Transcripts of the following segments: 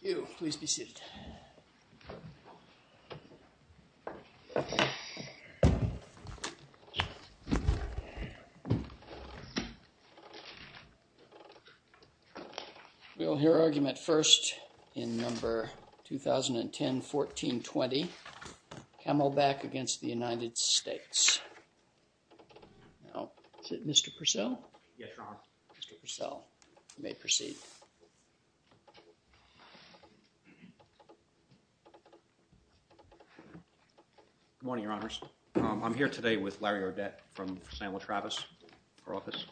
You please be seated. We'll hear argument first in number 2010-14-20 Camelback v. United States. Is it Mr. Purcell? Yes, Your Honor. Mr. Purcell, you may proceed. Good morning, Your Honors. I'm here today with Larry Ardette from Samuel Travis, her office,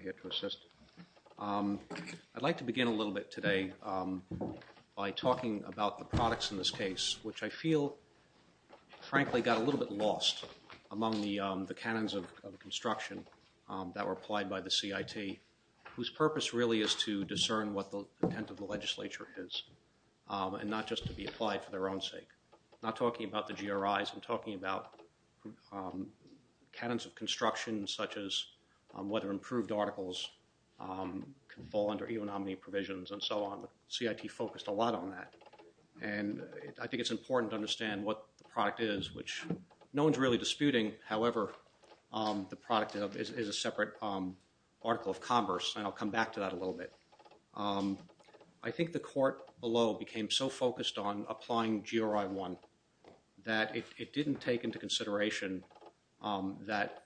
here to assist. I'd like to begin a little bit today by talking about the products in this case, which I feel, frankly, got a little bit lost among the canons of construction that were applied by the CIT, whose purpose really is to discern what the intent of the legislature is, and not just to be applied for their own sake. I'm not talking about the GRIs. I'm talking about canons of construction, such as whether improved articles can fall under EO nominee provisions, and so on. The CIT focused a lot on that, and I think it's important to understand what the product is, which no one's really disputing. However, the product is a separate article of converse, and I'll come back to that a little bit. I think the court below became so focused on applying GRI 1 that it didn't take into consideration that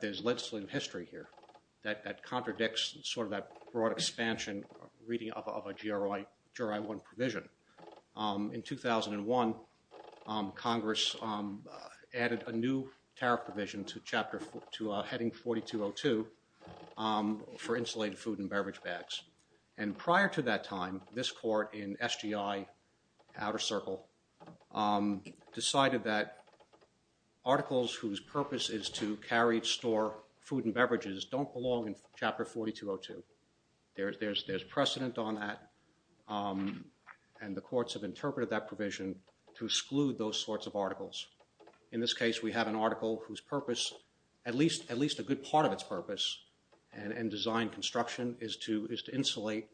there's legislative history here that contradicts sort of that broad expansion reading of a GRI 1 provision. In 2001, Congress added a new tariff provision to heading 4202 for insulated food and beverage bags. And prior to that time, this court in articles whose purpose is to carry, store food and beverages don't belong in Chapter 4202. There's precedent on that, and the courts have interpreted that provision to exclude those sorts of articles. In this case, we have an article whose purpose, at least a good part of its purpose, and design construction is to insulate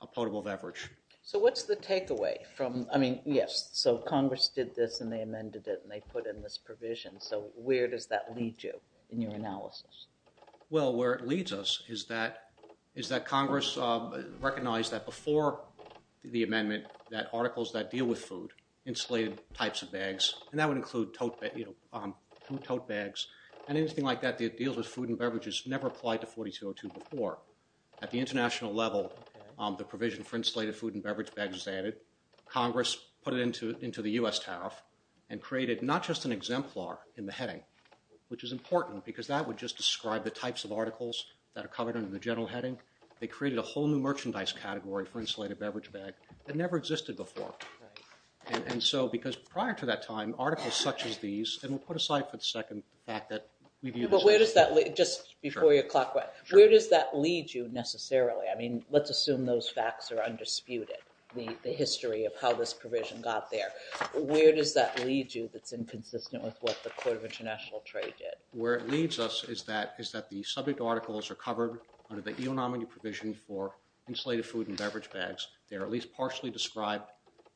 a potable beverage. So what's the takeaway from, I mean, yes, so Congress did this, and they amended it, and they put in this provision. So where does that lead you in your analysis? Well, where it leads us is that Congress recognized that before the amendment that articles that deal with food, insulated types of bags, and that would include food tote bags and anything like that that deals with food and beverages never applied to 4202 before. At the international level, the provision for insulated food and beverage bags is added. Congress put it into the U.S. TAF, and created not just an exemplar in the heading, which is important because that would just describe the types of articles that are covered under the general heading. They created a whole new merchandise category for insulated beverage bags that never existed before. And so, because prior to that time, articles such as these, and we'll put aside for a second the fact that we view this as- But where does that lead, just before you clock out, where does that lead you necessarily? I mean, let's assume those facts are undisputed, the history of how this provision got there. Where does that lead you that's inconsistent with what the Court of International Trade did? Where it leads us is that the subject articles are covered under the EO Nominee provision for insulated food and beverage bags. They are at least partially described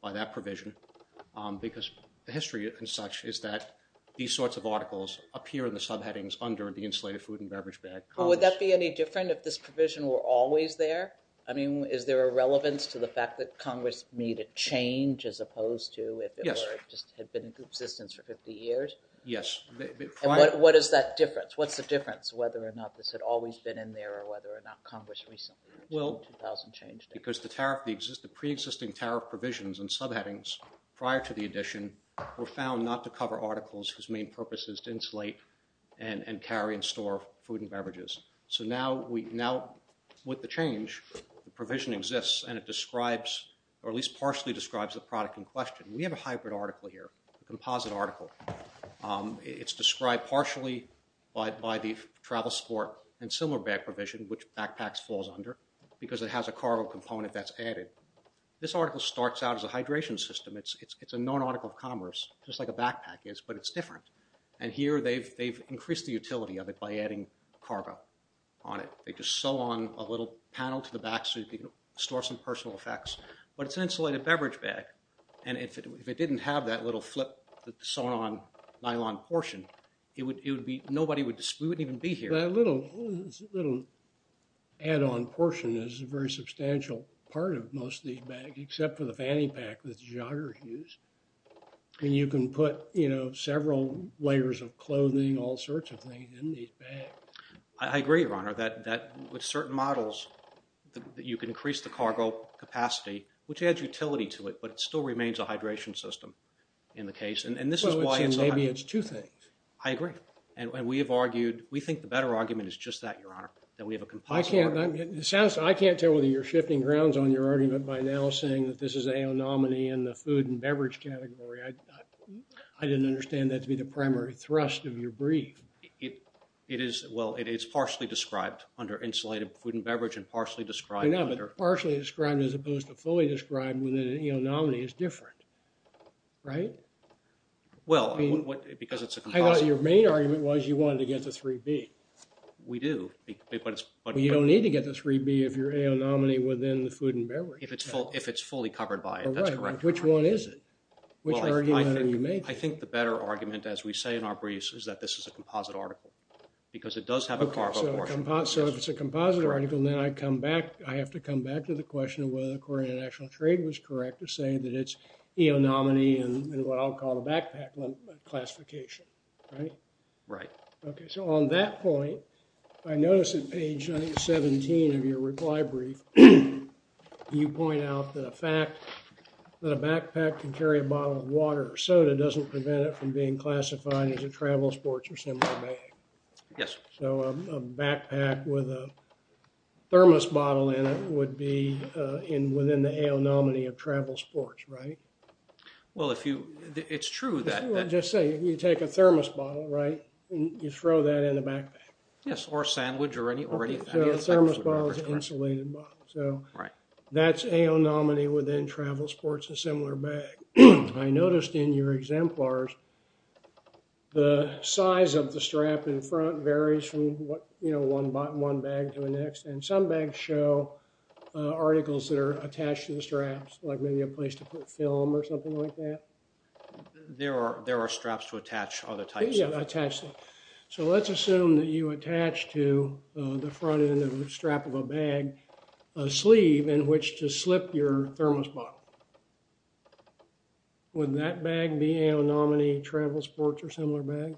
by that provision because the history and such is that these sorts of articles appear in the subheadings under the insulated food and beverage bag. Would that be any different if this provision were always there? I mean, is there a relevance to the fact that Congress made a change as opposed to if it just had been in existence for 50 years? Yes. What is that difference? What's the difference, whether or not this had always been in there or whether or not Congress recently changed it? Because the pre-existing tariff provisions and subheadings prior to the addition were found not to cover articles whose main purpose is to insulate and carry and store food and beverages. So now with the change, the provision exists and it describes, or at least partially describes the product in question. We have a hybrid article here, a composite article. It's described partially by the travel support and similar bag provision, which backpacks falls under, because it has a cargo component that's added. This article starts out as a just like a backpack is, but it's different. And here they've increased the utility of it by adding cargo on it. They just sew on a little panel to the back so you can store some personal effects. But it's an insulated beverage bag, and if it didn't have that little flip sewn on nylon portion, it would be, nobody would, we wouldn't even be here. That little add-on portion is a very substantial part of most of these bags, except for the fact that you put, you know, several layers of clothing, all sorts of things in these bags. I agree, Your Honor, that with certain models that you can increase the cargo capacity, which adds utility to it, but it still remains a hydration system in the case, and this is why it's a hybrid. Well, maybe it's two things. I agree. And we have argued, we think the better argument is just that, Your Honor, that we have a composite article. I can't, it sounds, I can't tell whether you're shifting grounds on your argument by now saying that this is a aonomany in the food and beverage category. I didn't understand that to be the primary thrust of your brief. It is, well, it is partially described under insulated food and beverage and partially described under... I know, but partially described as opposed to fully described within an aonomany is different, right? Well, I mean, because it's a composite... I thought your main argument was you wanted to get the 3B. We do, but it's... Well, you don't need to get the 3B if you're aonomany within the food and beverage. If it's full, if it's fully covered by it, that's correct. Which one is it? Which argument are you making? I think the better argument, as we say in our briefs, is that this is a composite article because it does have a... Okay, so if it's a composite article, then I come back, I have to come back to the question of whether the Court of International Trade was correct to say that it's aonomany and what I'll call the backpack classification, right? Right. Okay, so on that point, I notice that page 17 of your reply brief, you point out that a fact that a backpack can carry a bottle of water or soda doesn't prevent it from being classified as a travel sports or similar bag. Yes. So a backpack with a thermos bottle in it would be within the aonomany of travel sports, right? Well, if you... It's true that... Let's say you take a thermos bottle, right, and you throw that in the backpack. Yes, or a sandwich or any... So a thermos bottle is an insulated bottle. So that's aonomany within travel sports and similar bag. I noticed in your exemplars, the size of the strap in front varies from one bag to the next and some bags show articles that are attached to the straps, like maybe a place to put film or something like that. There are straps to attach other types of... Yeah, attach them. So let's assume that you attach to the front end of the strap of a bag a sleeve in which to slip your thermos bottle. Would that bag be aonomany travel sports or similar bag?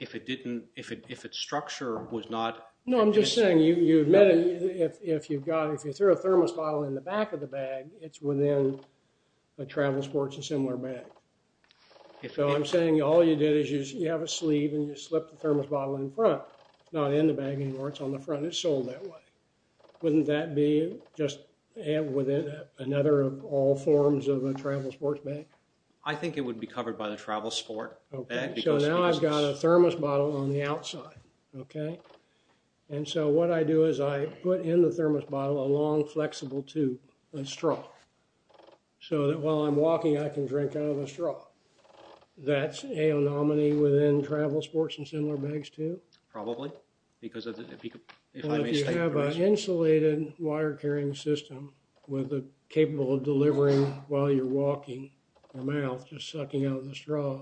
If it didn't... If its structure was not... No, I'm just saying you admit it if you've got, if you throw a thermos bottle in the back of the bag, it's within a travel sports and similar bag. So I'm saying all you did is you have a sleeve and you slip the thermos bottle in front, not in the bag anymore. It's on the front. It's sold that way. Wouldn't that be just within another of all forms of a travel sports bag? I think it would be covered by the travel sport bag because... Okay, so now I've got a thermos bottle on the outside, okay? And so what I do is I put in the thermos bottle a long flexible tube, a straw. So that while I'm walking, I can drink out of a straw. That's aonomany within travel sports and similar bags too? Probably because of the... If I may say... But if you have an insulated wire carrying system with a capable of delivering while you're walking, your mouth just sucking out of the straw,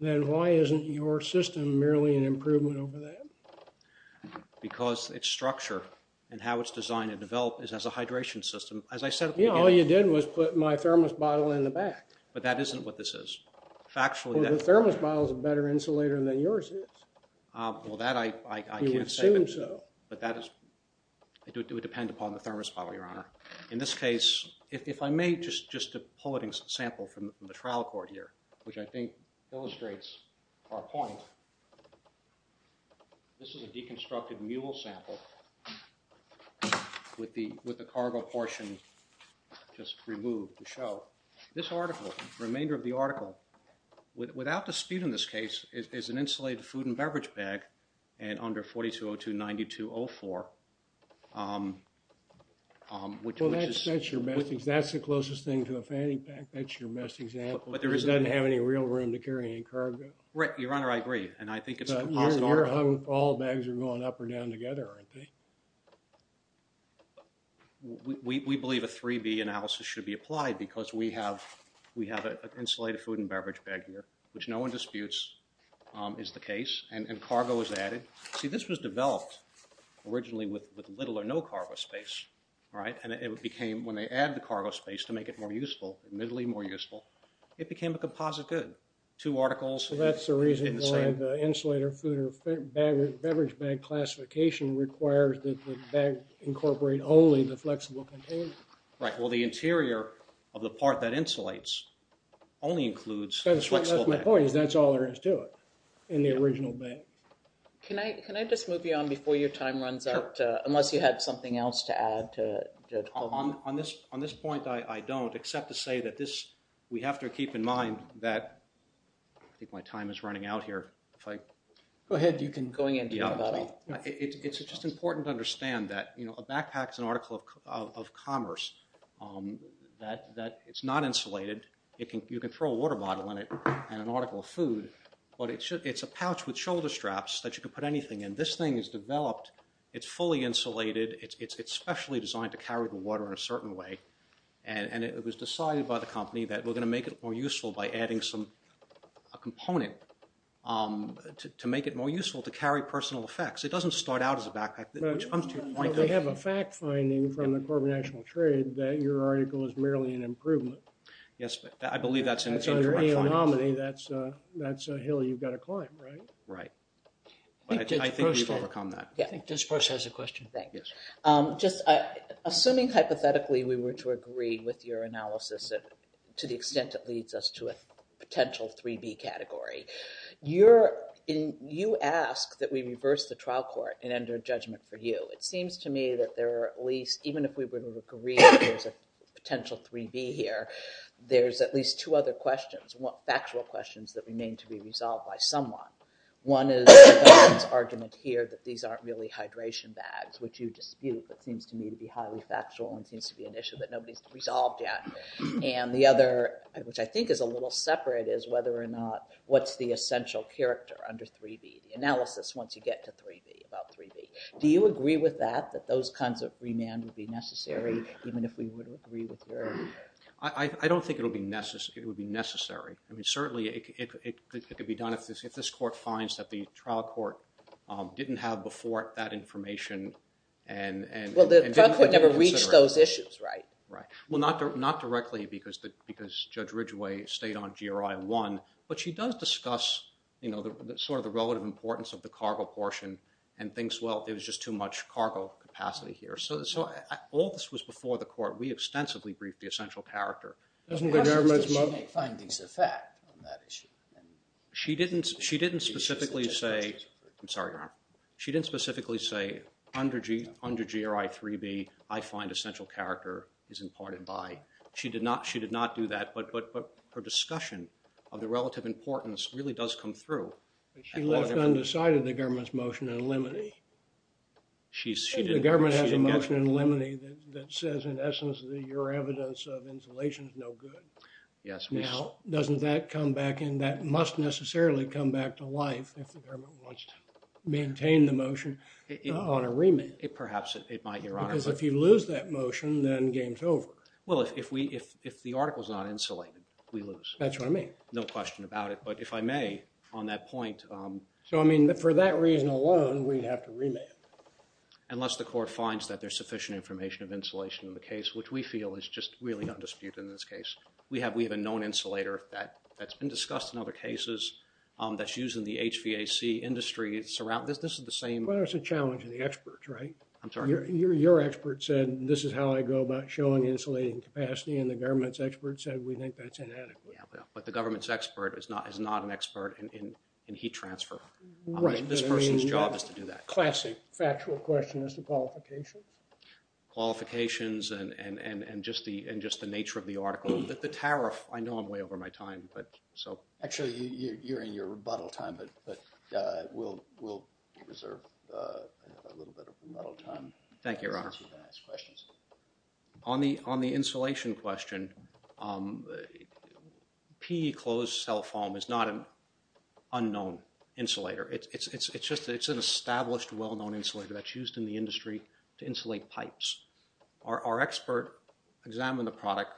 then why isn't your system merely an improvement over that? Because it's structure and how it's designed and developed is as a hydration system. As I said at the beginning... Yeah, all you did was put my thermos bottle in the back. But that isn't what this is. Factually, that... Well, the thermos bottle is a better insulator than yours is. Well, that I can't say... You would assume so. But that is... It would depend upon the thermos bottle, Your Honor. In this case, if I may just to pull a sample from the trial court here, which I think illustrates our point, this is a deconstructed mule sample with the cargo portion just removed to show. This article, remainder of the article, without dispute in this case, is an insulated food and beverage bag and under 4202.9204, which is... Well, that's your best... That's the closest thing to a fanny pack. That's your best example. But there is... It doesn't have any real room to carry any cargo. Right. Your Honor, I agree. And I think it's a composite article. But you're hung... All bags are going up or down together, aren't they? We believe a 3B analysis should be applied because we have an insulated food and beverage bag here, which no one disputes is the case. And cargo is added. See, this was developed originally with little or no cargo space, right? And it became... Admittedly more useful. It became a composite good. Two articles in the same... Well, that's the reason why the insulator food or beverage bag classification requires that the bag incorporate only the flexible container. Right. Well, the interior of the part that insulates only includes flexible bag. That's my point, is that's all there is to it in the original bag. Can I just move you on before your time runs out? Sure. Unless you had something else to add to... On this point, I don't, except to say that this... We have to keep in mind that... I think my time is running out here. If I... Go ahead. You can go in and talk about it. It's just important to understand that a backpack is an article of commerce, that it's not insulated. You can throw a water bottle in it and an article of food, but it's a pouch with shoulder straps that you can put anything in. This thing is developed. It's fully insulated. It's specially designed to carry the water in a certain way, and it was decided by the company that we're going to make it more useful by adding a component to make it more useful to carry personal effects. It doesn't start out as a backpack, which comes to your point... But we have a fact finding from the Corporate National Trade that your article is merely an improvement. Yes, I believe that's an indirect finding. If you're a real nominee, that's a hill you've got to climb, right? Right. I think we've overcome that. Yeah. I think Ms. Brooks has a question. Thank you. Just assuming hypothetically we were to agree with your analysis to the extent it leads us to a potential 3B category, you ask that we reverse the trial court and enter judgment for you. It seems to me that there are at least, even if we were to agree that there's a potential 3B here, there's at least two other questions, factual questions that remain to be resolved by someone. One is the argument here that these aren't really hydration bags, which you dispute, but seems to me to be highly factual and seems to be an issue that nobody's resolved yet. And the other, which I think is a little separate, is whether or not what's the essential character under 3B, the analysis once you get to 3B, about 3B. Do you agree with that, that those kinds of remand would be necessary, even if we were to agree with your argument? I don't think it would be necessary. Certainly, it could be done if this court finds that the trial court didn't have before that information. Well, the trial court never reached those issues, right? Right. Well, not directly, because Judge Ridgeway stayed on GRI 1, but she does discuss sort of the relative importance of the cargo portion and thinks, well, it was just too much cargo capacity here. So all this was before the court. We extensively briefed the essential character. Doesn't the government's motion... It happens that she makes findings of fact on that issue. She didn't specifically say, under GRI 3B, I find essential character is imparted by. She did not do that, but her discussion of the relative importance really does come through. But she left undecided the government's motion in limine. The government has a motion in limine that says, in essence, that your evidence of insulation is no good. Yes. Now, doesn't that come back? And that must necessarily come back to life if the government wants to maintain the motion on a remit. Perhaps it might, Your Honor. Because if you lose that motion, then game's over. Well, if the article's not insulated, we lose. That's what I mean. No question about it. But if I may, on that point... So, I mean, for that reason alone, we'd have to remit. Unless the court finds that there's sufficient information of insulation in the case, which we feel is just really undisputed in this case. We have a known insulator that's been discussed in other cases that's used in the HVAC industry. This is the same... Well, it's a challenge to the experts, right? I'm sorry? Your expert said, this is how I go about showing the insulating capacity, and the government's expert said, we think that's inadequate. Yeah, but the government's expert is not an expert in heat transfer. Right. This person's job is to do that. Classic factual question is the qualifications? Qualifications and just the nature of the article. The tariff, I know I'm way over my time, but... Actually, you're in your rebuttal time, but we'll reserve a little bit of rebuttal time. Thank you, Your Honor. To ask questions. On the insulation question, PE closed cell foam is not an unknown insulator. It's an established, well-known insulator that's used in the industry to insulate pipes. Our expert examined the product.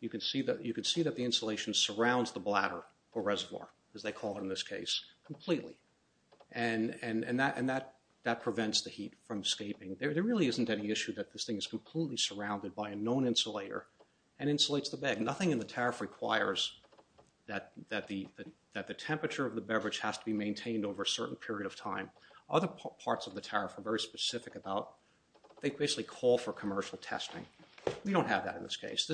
You can see that the insulation surrounds the bladder or reservoir, as they call it in this case, completely, and that prevents the heat from escaping. There really isn't any issue that this thing is completely surrounded by a known insulator and insulates the bag. Nothing in the tariff requires that the temperature of the beverage has to be maintained over a certain period of time. Other parts of the tariff are very specific about, they basically call for commercial testing. We don't have that in this case.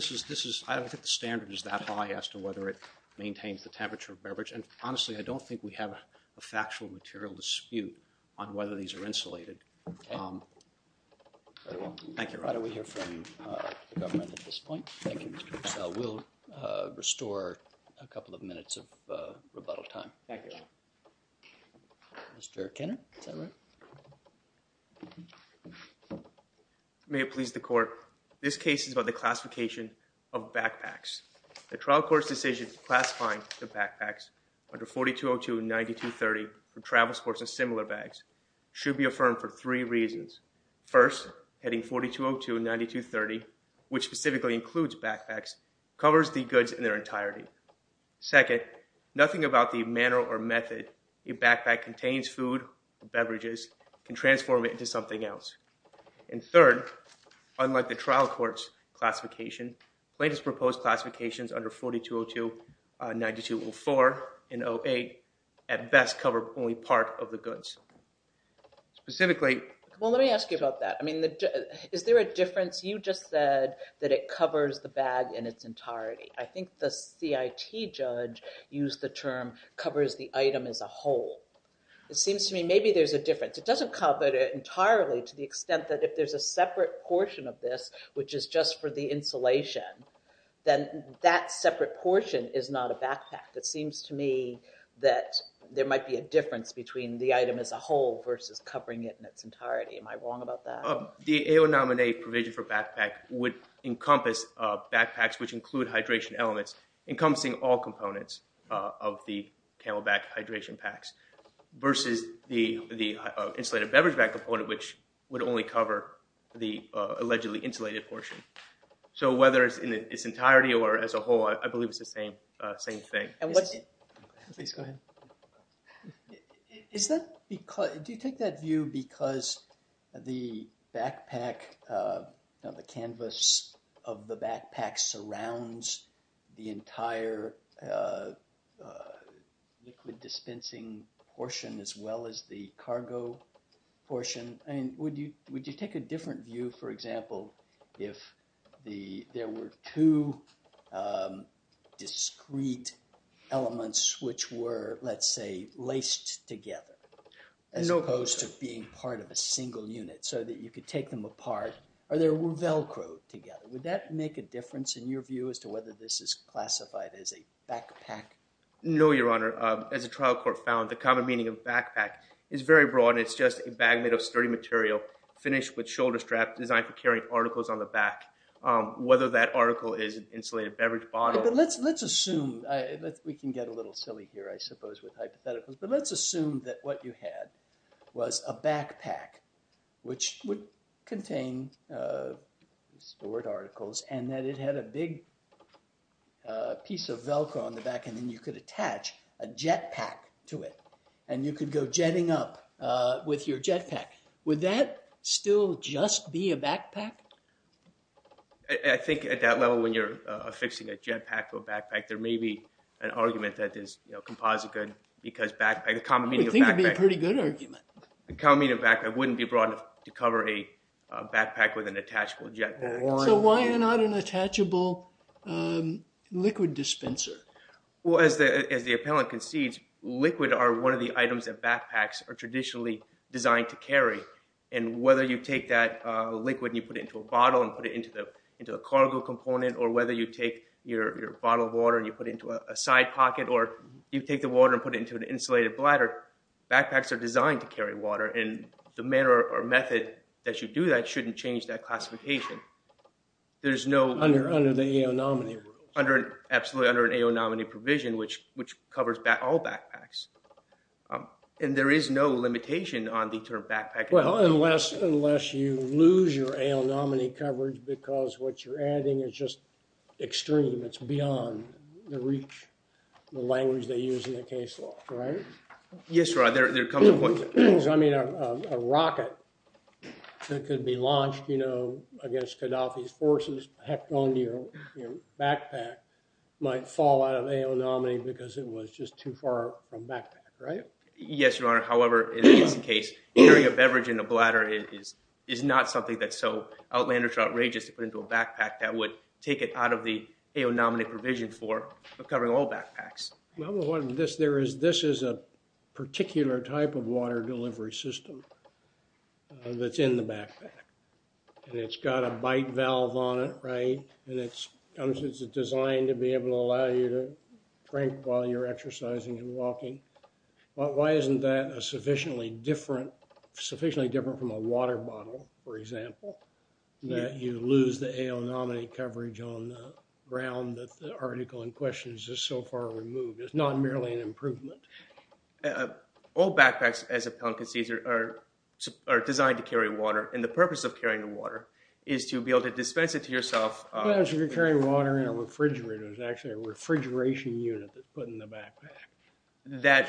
I don't think the standard is that high as to whether it maintains the temperature of beverage, and honestly, I don't think we have a factual material dispute on whether these are insulated. Okay. Very well. Thank you. Why don't we hear from the government at this point? Thank you, Mr. Purcell. We'll restore a couple of minutes of rebuttal time. Thank you. Mr. Kenner, is that right? May it please the court. This case is about the classification of backpacks. The trial court's decision classifying the backpacks under 4202 and 9230 for travel sports and similar bags should be affirmed for three reasons. First, heading 4202 and 9230, which specifically includes backpacks, covers the goods in their entirety. Second, nothing about the manner or method a backpack contains food or beverages can transform it into something else. And third, unlike the trial court's classification, plaintiff's proposed classifications under specifically... Well, let me ask you about that. I mean, is there a difference? You just said that it covers the bag in its entirety. I think the CIT judge used the term covers the item as a whole. It seems to me maybe there's a difference. It doesn't cover it entirely to the extent that if there's a separate portion of this, that seems to me that there might be a difference between the item as a whole versus covering it in its entirety. Am I wrong about that? The AO Nominate provision for backpack would encompass backpacks which include hydration elements, encompassing all components of the Camelback hydration packs versus the insulated beverage bag component, which would only cover the allegedly insulated portion. So whether it's in its entirety or as a whole, I believe it's the same thing. Please go ahead. Do you take that view because the backpack, the canvas of the backpack surrounds the entire liquid dispensing portion as well as the cargo portion? And would you take a different view, for example, if there were two discrete elements which were, let's say, laced together as opposed to being part of a single unit so that you could take them apart or they were Velcroed together? Would that make a difference in your view as to whether this is classified as a backpack? No, Your Honor. As the trial court found, the common meaning of backpack is very broad. It's just a bag made of sturdy material finished with shoulder straps designed for carrying articles on the back, whether that article is an insulated beverage bottle. But let's assume, we can get a little silly here, I suppose, with hypotheticals, but let's assume that what you had was a backpack which would contain sport articles and that it had a big piece of Velcro on the back and then you could attach a jet pack to it and you could go jetting up with your jet pack. Would that still just be a backpack? I think at that level, when you're affixing a jet pack to a backpack, there may be an argument that is, you know, composite good because backpack, the common meaning of backpack... I think it would be a pretty good argument. The common meaning of backpack wouldn't be broad enough to cover a backpack with an attachable jet pack. So why not an attachable liquid dispenser? Well, as the appellant concedes, liquid are one of the items that backpacks are traditionally designed to carry. And whether you take that liquid and you put it into a bottle and put it into a cargo component or whether you take your bottle of water and you put it into a side pocket or you take the water and put it into an insulated bladder, backpacks are designed to carry water and the manner or method that you do that shouldn't change that classification. There's no... Under the AO nominee rules. Absolutely, under an AO nominee provision, which covers all backpacks. And there is no limitation on the term backpack. Well, unless you lose your AO nominee coverage because what you're adding is just extreme. It's beyond the reach, the language they use in the case law, right? Yes, your honor, there comes a point... I mean, a rocket that could be launched, you know, against Gaddafi's forces, packed onto your backpack, might fall out of AO nominee because it was just too far from backpack, right? Yes, your honor. However, in this case, entering a beverage in a bladder is not something that's so outlandish or outrageous to put into a backpack that would take it out of the AO nominee provision for covering all backpacks. This is a particular type of water delivery system that's in the backpack. And it's got a bite valve on it, right? And it's designed to be able to allow you to drink while you're exercising and walking. Why isn't that sufficiently different from a water bottle, for example, that you lose the AO nominee coverage on the ground that the article in question is just so far removed? It's not merely an improvement. All backpacks, as appellant concedes, are designed to carry water. And the purpose of carrying the water is to be able to dispense it to yourself. Well, if you're carrying water in a refrigerator, it's actually a refrigeration unit that's put in the backpack.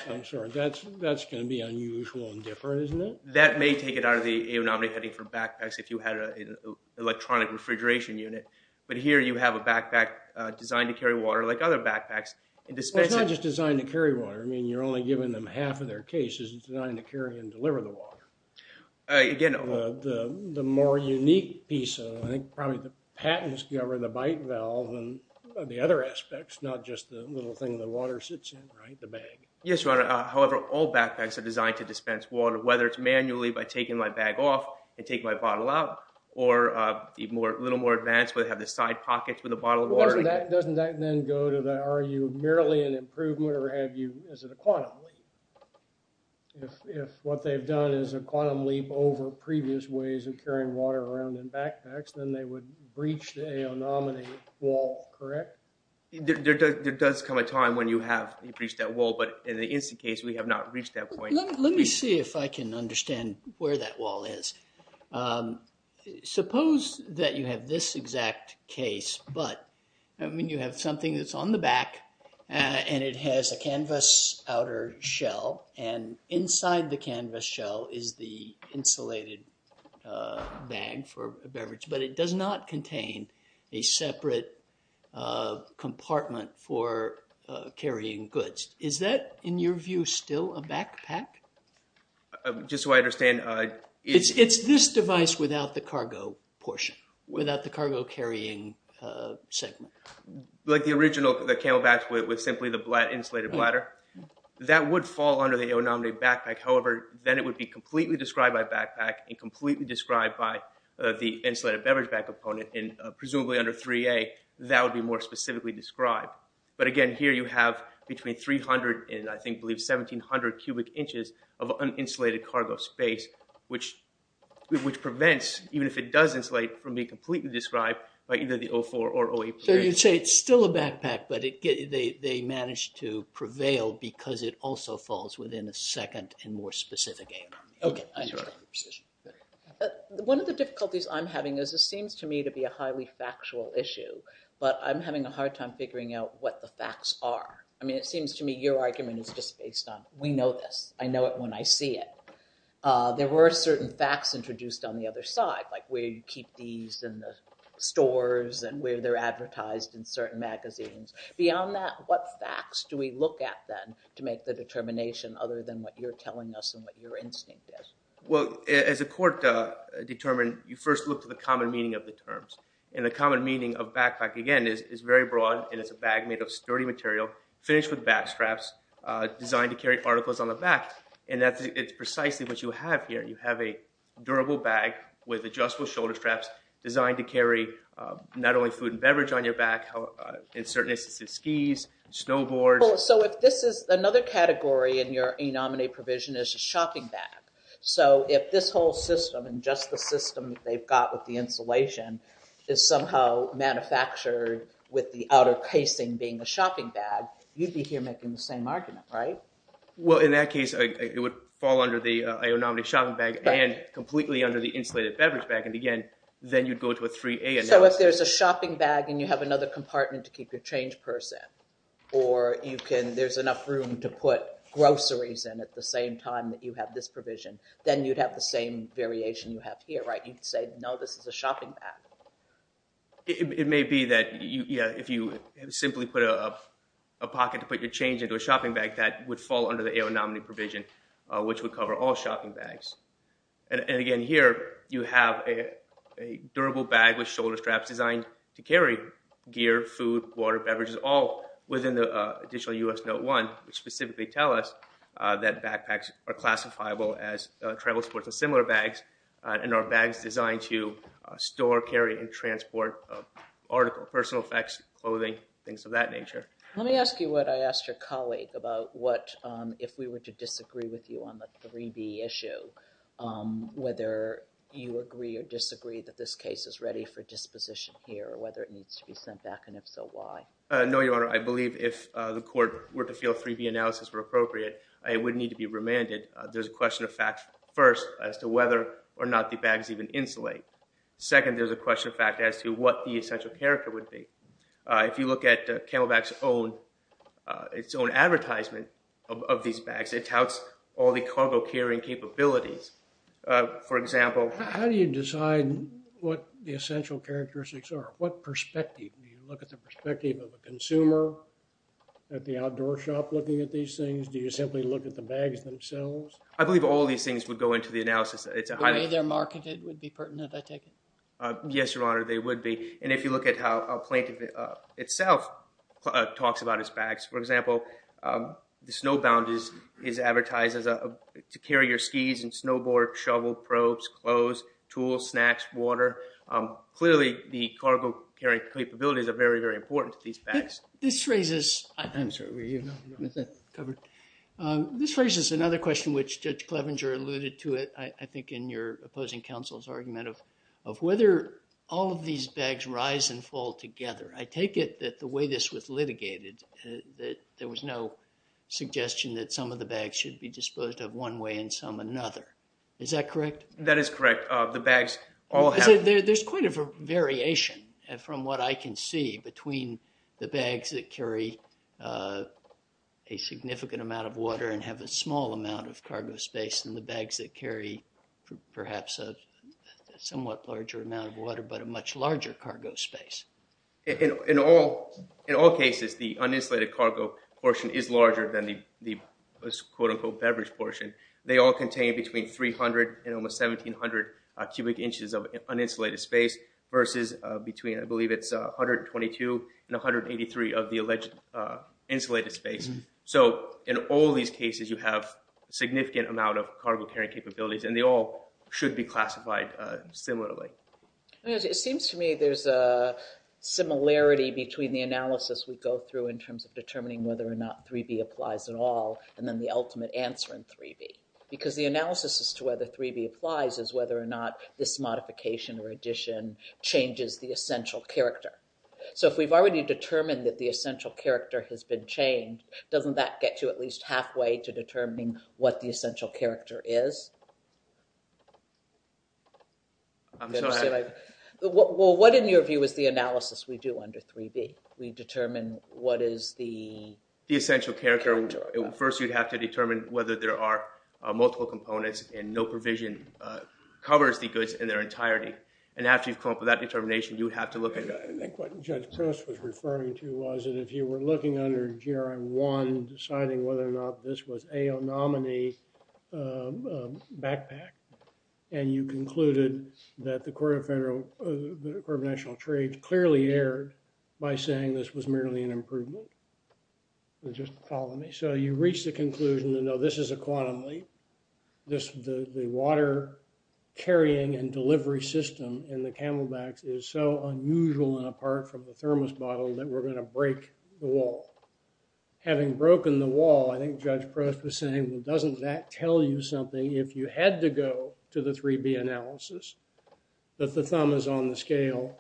I'm sorry, that's going to be unusual and different, isn't it? That may take it out of the AO nominee heading for backpacks if you had an electronic refrigeration unit. But here you have a backpack designed to carry water like other backpacks. Well, it's not just designed to carry water. I mean, you're only giving them half of their cases. It's designed to carry and deliver the water. The more unique piece of it, I think probably the patents govern the bite valve and the other aspects, not just the little thing the water sits in, right, the bag. Yes, Your Honor. However, all backpacks are designed to dispense water, whether it's manually by taking my bag off and taking my bottle out or a little more advanced where they have the side pockets with a bottle of water. Doesn't that then go to the, are you merely an improvement or is it a quantum leap? If what they've done is a quantum leap over previous ways of carrying water around in backpacks, then they would breach the AO nominee wall, correct? There does come a time when you have breached that wall, but in the instant case, we have not reached that point. Let me see if I can understand where that wall is. Suppose that you have this exact case, but I mean, you have something that's on the back and it has a canvas outer shell and inside the canvas shell is the insulated bag for compartment for carrying goods. Is that, in your view, still a backpack? Just so I understand. It's this device without the cargo portion, without the cargo carrying segment. Like the original CamelBaks with simply the insulated bladder? That would fall under the AO nominee backpack. However, then it would be completely described by backpack and completely described by the But again, here you have between 300 and I believe 1,700 cubic inches of uninsulated cargo space, which prevents, even if it does insulate, from being completely described by either the O4 or O8 program. So you'd say it's still a backpack, but they managed to prevail because it also falls within a second and more specific AO. Okay, I understand your position. One of the difficulties I'm having is this seems to me to be a highly factual issue, but I'm having a hard time figuring out what the facts are. I mean, it seems to me your argument is just based on we know this. I know it when I see it. There were certain facts introduced on the other side, like where you keep these in the stores and where they're advertised in certain magazines. Beyond that, what facts do we look at then to make the determination other than what you're telling us and what your instinct is? Well, as a court determined, you first look to the common meaning of the terms. And the common meaning of backpack, again, is very broad, and it's a bag made of sturdy material, finished with back straps, designed to carry articles on the back. And that's precisely what you have here. You have a durable bag with adjustable shoulder straps designed to carry not only food and beverage on your back, in certain instances skis, snowboards. So if this is another category in your E-Nominate provision is a shopping bag. So if this whole system and just the system they've got with the insulation is somehow manufactured with the outer casing being a shopping bag, you'd be here making the same argument, right? Well, in that case, it would fall under the E-Nominate shopping bag and completely under the insulated beverage bag. And again, then you'd go to a 3A analysis. So if there's a shopping bag and you have another compartment to keep your change purse in, or there's enough room to put groceries in at the same time that you have this provision, then you'd have the same variation you have here, right? You'd say, no, this is a shopping bag. It may be that, yeah, if you simply put a pocket to put your change into a shopping bag, that would fall under the E-Nominate provision, which would cover all shopping bags. And again, here you have a durable bag with shoulder straps designed to carry gear, food, water, beverages, all within the additional US Note 1, which specifically tell us that tribal sports have similar bags, and are bags designed to store, carry, and transport article, personal effects, clothing, things of that nature. Let me ask you what I asked your colleague about what if we were to disagree with you on the 3B issue, whether you agree or disagree that this case is ready for disposition here, or whether it needs to be sent back, and if so, why? No, Your Honor. I believe if the court were to feel a 3B analysis were appropriate, it would need to be remanded. There's a question of fact, first, as to whether or not the bags even insulate. Second, there's a question of fact as to what the essential character would be. If you look at CamelBak's own, its own advertisement of these bags, it touts all the cargo carrying capabilities. For example... How do you decide what the essential characteristics are? What perspective? Do you look at the perspective of a consumer at the outdoor shop looking at these things? Do you simply look at the bags themselves? I believe all these things would go into the analysis. The way they're marketed would be pertinent, I take it? Yes, Your Honor. They would be. And if you look at how Plaintiff itself talks about its bags, for example, the snowbound is advertised to carry your skis and snowboard, shovel, probes, clothes, tools, snacks, water. Clearly, the cargo carrying capabilities are very, very important to these bags. This raises... I'm sorry, were you not covered? This raises another question which Judge Clevenger alluded to it, I think, in your opposing counsel's argument of whether all of these bags rise and fall together. I take it that the way this was litigated, that there was no suggestion that some of the bags should be disposed of one way and some another. Is that correct? That is correct. The bags all have... There's quite a variation from what I can see between the bags that carry a significant amount of water and have a small amount of cargo space and the bags that carry perhaps a somewhat larger amount of water but a much larger cargo space. In all cases, the uninsulated cargo portion is larger than the quote-unquote beverage portion. They all contain between 300 and almost 1,700 cubic inches of uninsulated space versus between, I believe it's 122 and 183 of the alleged insulated space. So, in all these cases, you have a significant amount of cargo carrying capabilities and they all should be classified similarly. It seems to me there's a similarity between the analysis we go through in terms of determining whether or not 3B applies at all and then the ultimate answer in 3B. Because the analysis as to whether 3B applies is whether or not this modification or addition changes the essential character. So, if we've already determined that the essential character has been changed, doesn't that get you at least halfway to determining what the essential character is? I'm sorry. Well, what in your view is the analysis we do under 3B? We determine what is the... The essential character. First, you'd have to determine whether there are multiple components and no provision covers the goods in their entirety. And after you've come up with that determination, you would have to look at... I think what Judge Cross was referring to was that if you were looking under GRM 1, deciding whether or not this was AO nominee backpack, and you concluded that the Court of Federal... The Court of National Trade clearly erred by saying this was merely an improvement. Just follow me. So, you reach the conclusion to know this is a quantum leap. This... The water carrying and delivery system in the Camelbacks is so unusual and apart from the thermos bottle that we're going to break the wall. Having broken the wall, I think Judge Cross was saying, well, doesn't that tell you something if you had to go to the 3B analysis? That the thumb is on the scale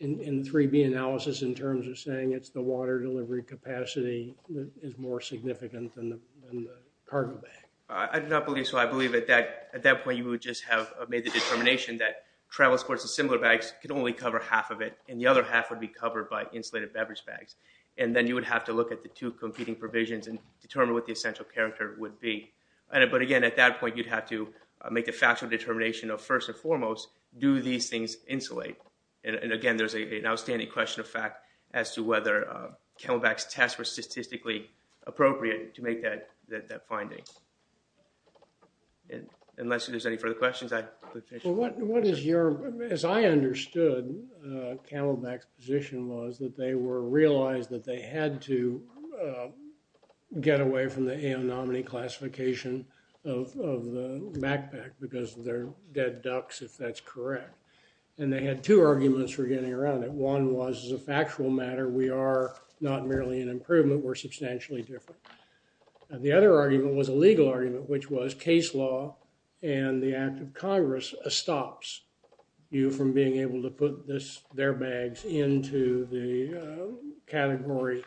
in 3B analysis in terms of saying it's the water delivery capacity that is more significant than the cargo bag. I do not believe so. I believe at that point you would just have made the determination that travel sports and similar bags could only cover half of it, and the other half would be covered by insulated beverage bags. And then you would have to look at the two competing provisions and determine what the essential character would be. But again, at that point, you'd have to make a factual determination of, first and foremost, do these things insulate? And again, there's an outstanding question of fact as to whether Camelback's test was statistically appropriate to make that finding. Unless there's any further questions, I... Well, what is your... As I understood, Camelback's position was that they were realized that they had to get away from the AON nominee classification of the backpack because they're dead ducks, if that's correct. And they had two arguments for getting around it. One was, as a factual matter, we are not merely an improvement. We're substantially different. And the other argument was a legal argument, which was case law and the act of Congress stops you from being able to put their bags into the category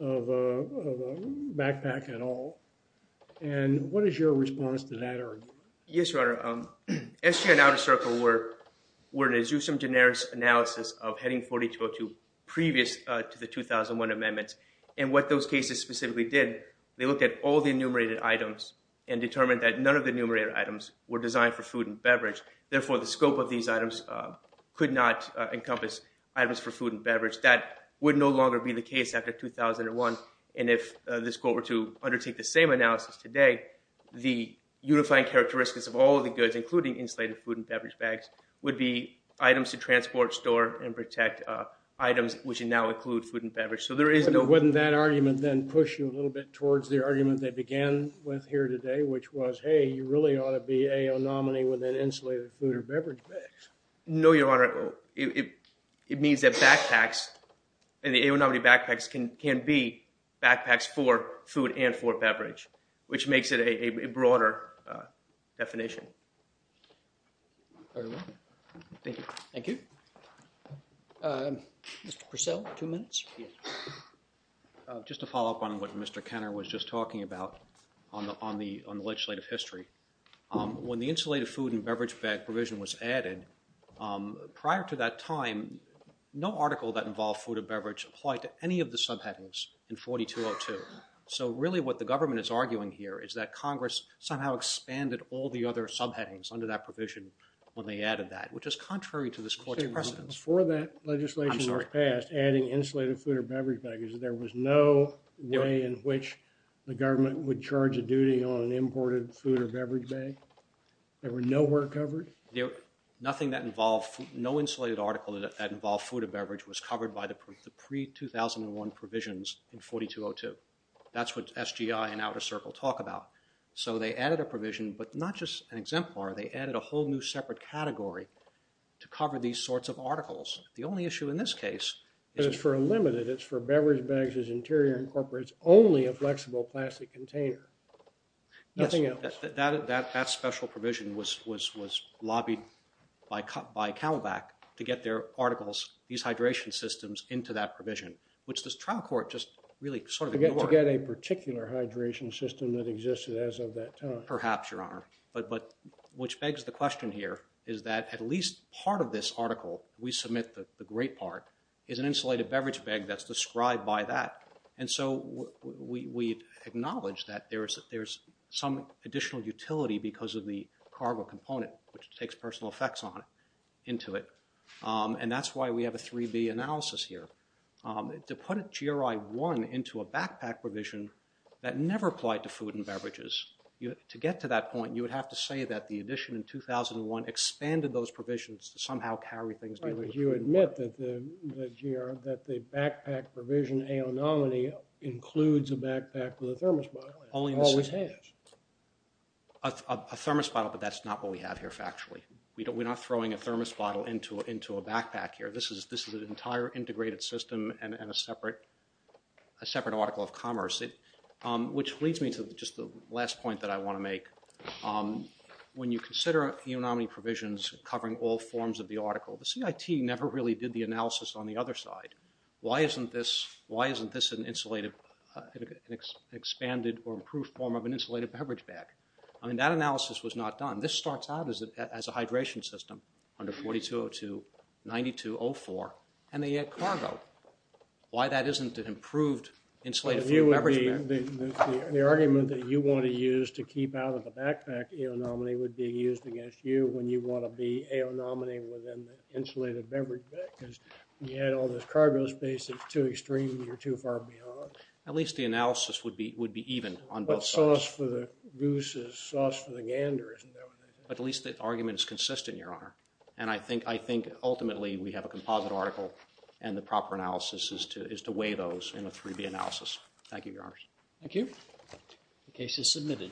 of a backpack at all. And what is your response to that argument? Yes, Your Honor. Estrada and Outer Circle were an Azusa and Daenerys analysis of Heading 4202, previous to the 2001 amendments. And what those cases specifically did, they looked at all the enumerated items and determined that none of the enumerated items were designed for food and beverage. Therefore, the scope of these items could not encompass items for food and beverage. That would no longer be the case after 2001. And if this court were to undertake the same analysis today, the unifying characteristics of all of the goods, including insulated food and beverage bags, would be items to transport, store, and protect items which now include food and beverage. So there is no... which was, hey, you really ought to be a nominee with an insulated food or beverage bag. No, Your Honor. It means that backpacks and the aonomity backpacks can be backpacks for food and for beverage, which makes it a broader definition. Thank you. Thank you. Mr. Purcell, two minutes. Just to follow up on what Mr. Kenner was just talking about on the legislative history. When the insulated food and beverage bag provision was added, prior to that time, no article that involved food and beverage applied to any of the subheadings in 4202. So really what the government is arguing here is that Congress somehow expanded all the other subheadings under that provision when they added that, which is contrary to this court's precedence. Before that legislation was passed, adding insulated food or beverage bags, there was no way in which the government would charge a duty on an imported food or beverage bag? There were nowhere covered? Nothing that involved... no insulated article that involved food or beverage was covered by the pre-2001 provisions in 4202. That's what SGI and Outer Circle talk about. So they added a provision, but not just an exemplar. They added a whole new separate category to cover these sorts of articles. The only issue in this case... But it's for a limited... it's for beverage bags as interior incorporates only a flexible plastic container. Nothing else. That special provision was lobbied by Camelback to get their articles, these hydration systems, into that provision, which this trial court just really sort of ignored. To get a particular hydration system that existed as of that time. Which begs the question here is that at least part of this article we submit, the great part, is an insulated beverage bag that's described by that. And so we acknowledge that there is some additional utility because of the cargo component, which takes personal effects into it. And that's why we have a 3B analysis here. To put a GRI 1 into a backpack provision that never applied to food and beverages, to get to that point, you would have to say that the addition in 2001 expanded those provisions to somehow carry things... Right, but you admit that the GR, that the backpack provision, aonomeni, includes a backpack with a thermos bottle. It always has. A thermos bottle, but that's not what we have here factually. We're not throwing a thermos bottle into a backpack here. This is an entire integrated system and a separate article of commerce. Which leads me to just the last point that I want to make. When you consider aonomeni provisions covering all forms of the article, the CIT never really did the analysis on the other side. Why isn't this an expanded or improved form of an insulated beverage bag? That analysis was not done. This starts out as a hydration system under 4202, 9204, and they add cargo. Why that isn't an improved insulated beverage bag? The argument that you want to use to keep out of the backpack aonomeni would be used against you when you want to be aonomeni within the insulated beverage bag, because you had all this cargo space that's too extreme and you're too far beyond. At least the analysis would be even on both sides. But sauce for the goose is sauce for the gander, isn't that what it is? At least the argument is consistent, Your Honor. And I think ultimately we have a composite article and the proper analysis is to weigh those in a 3B analysis. Thank you, Your Honor. Thank you. The case is submitted.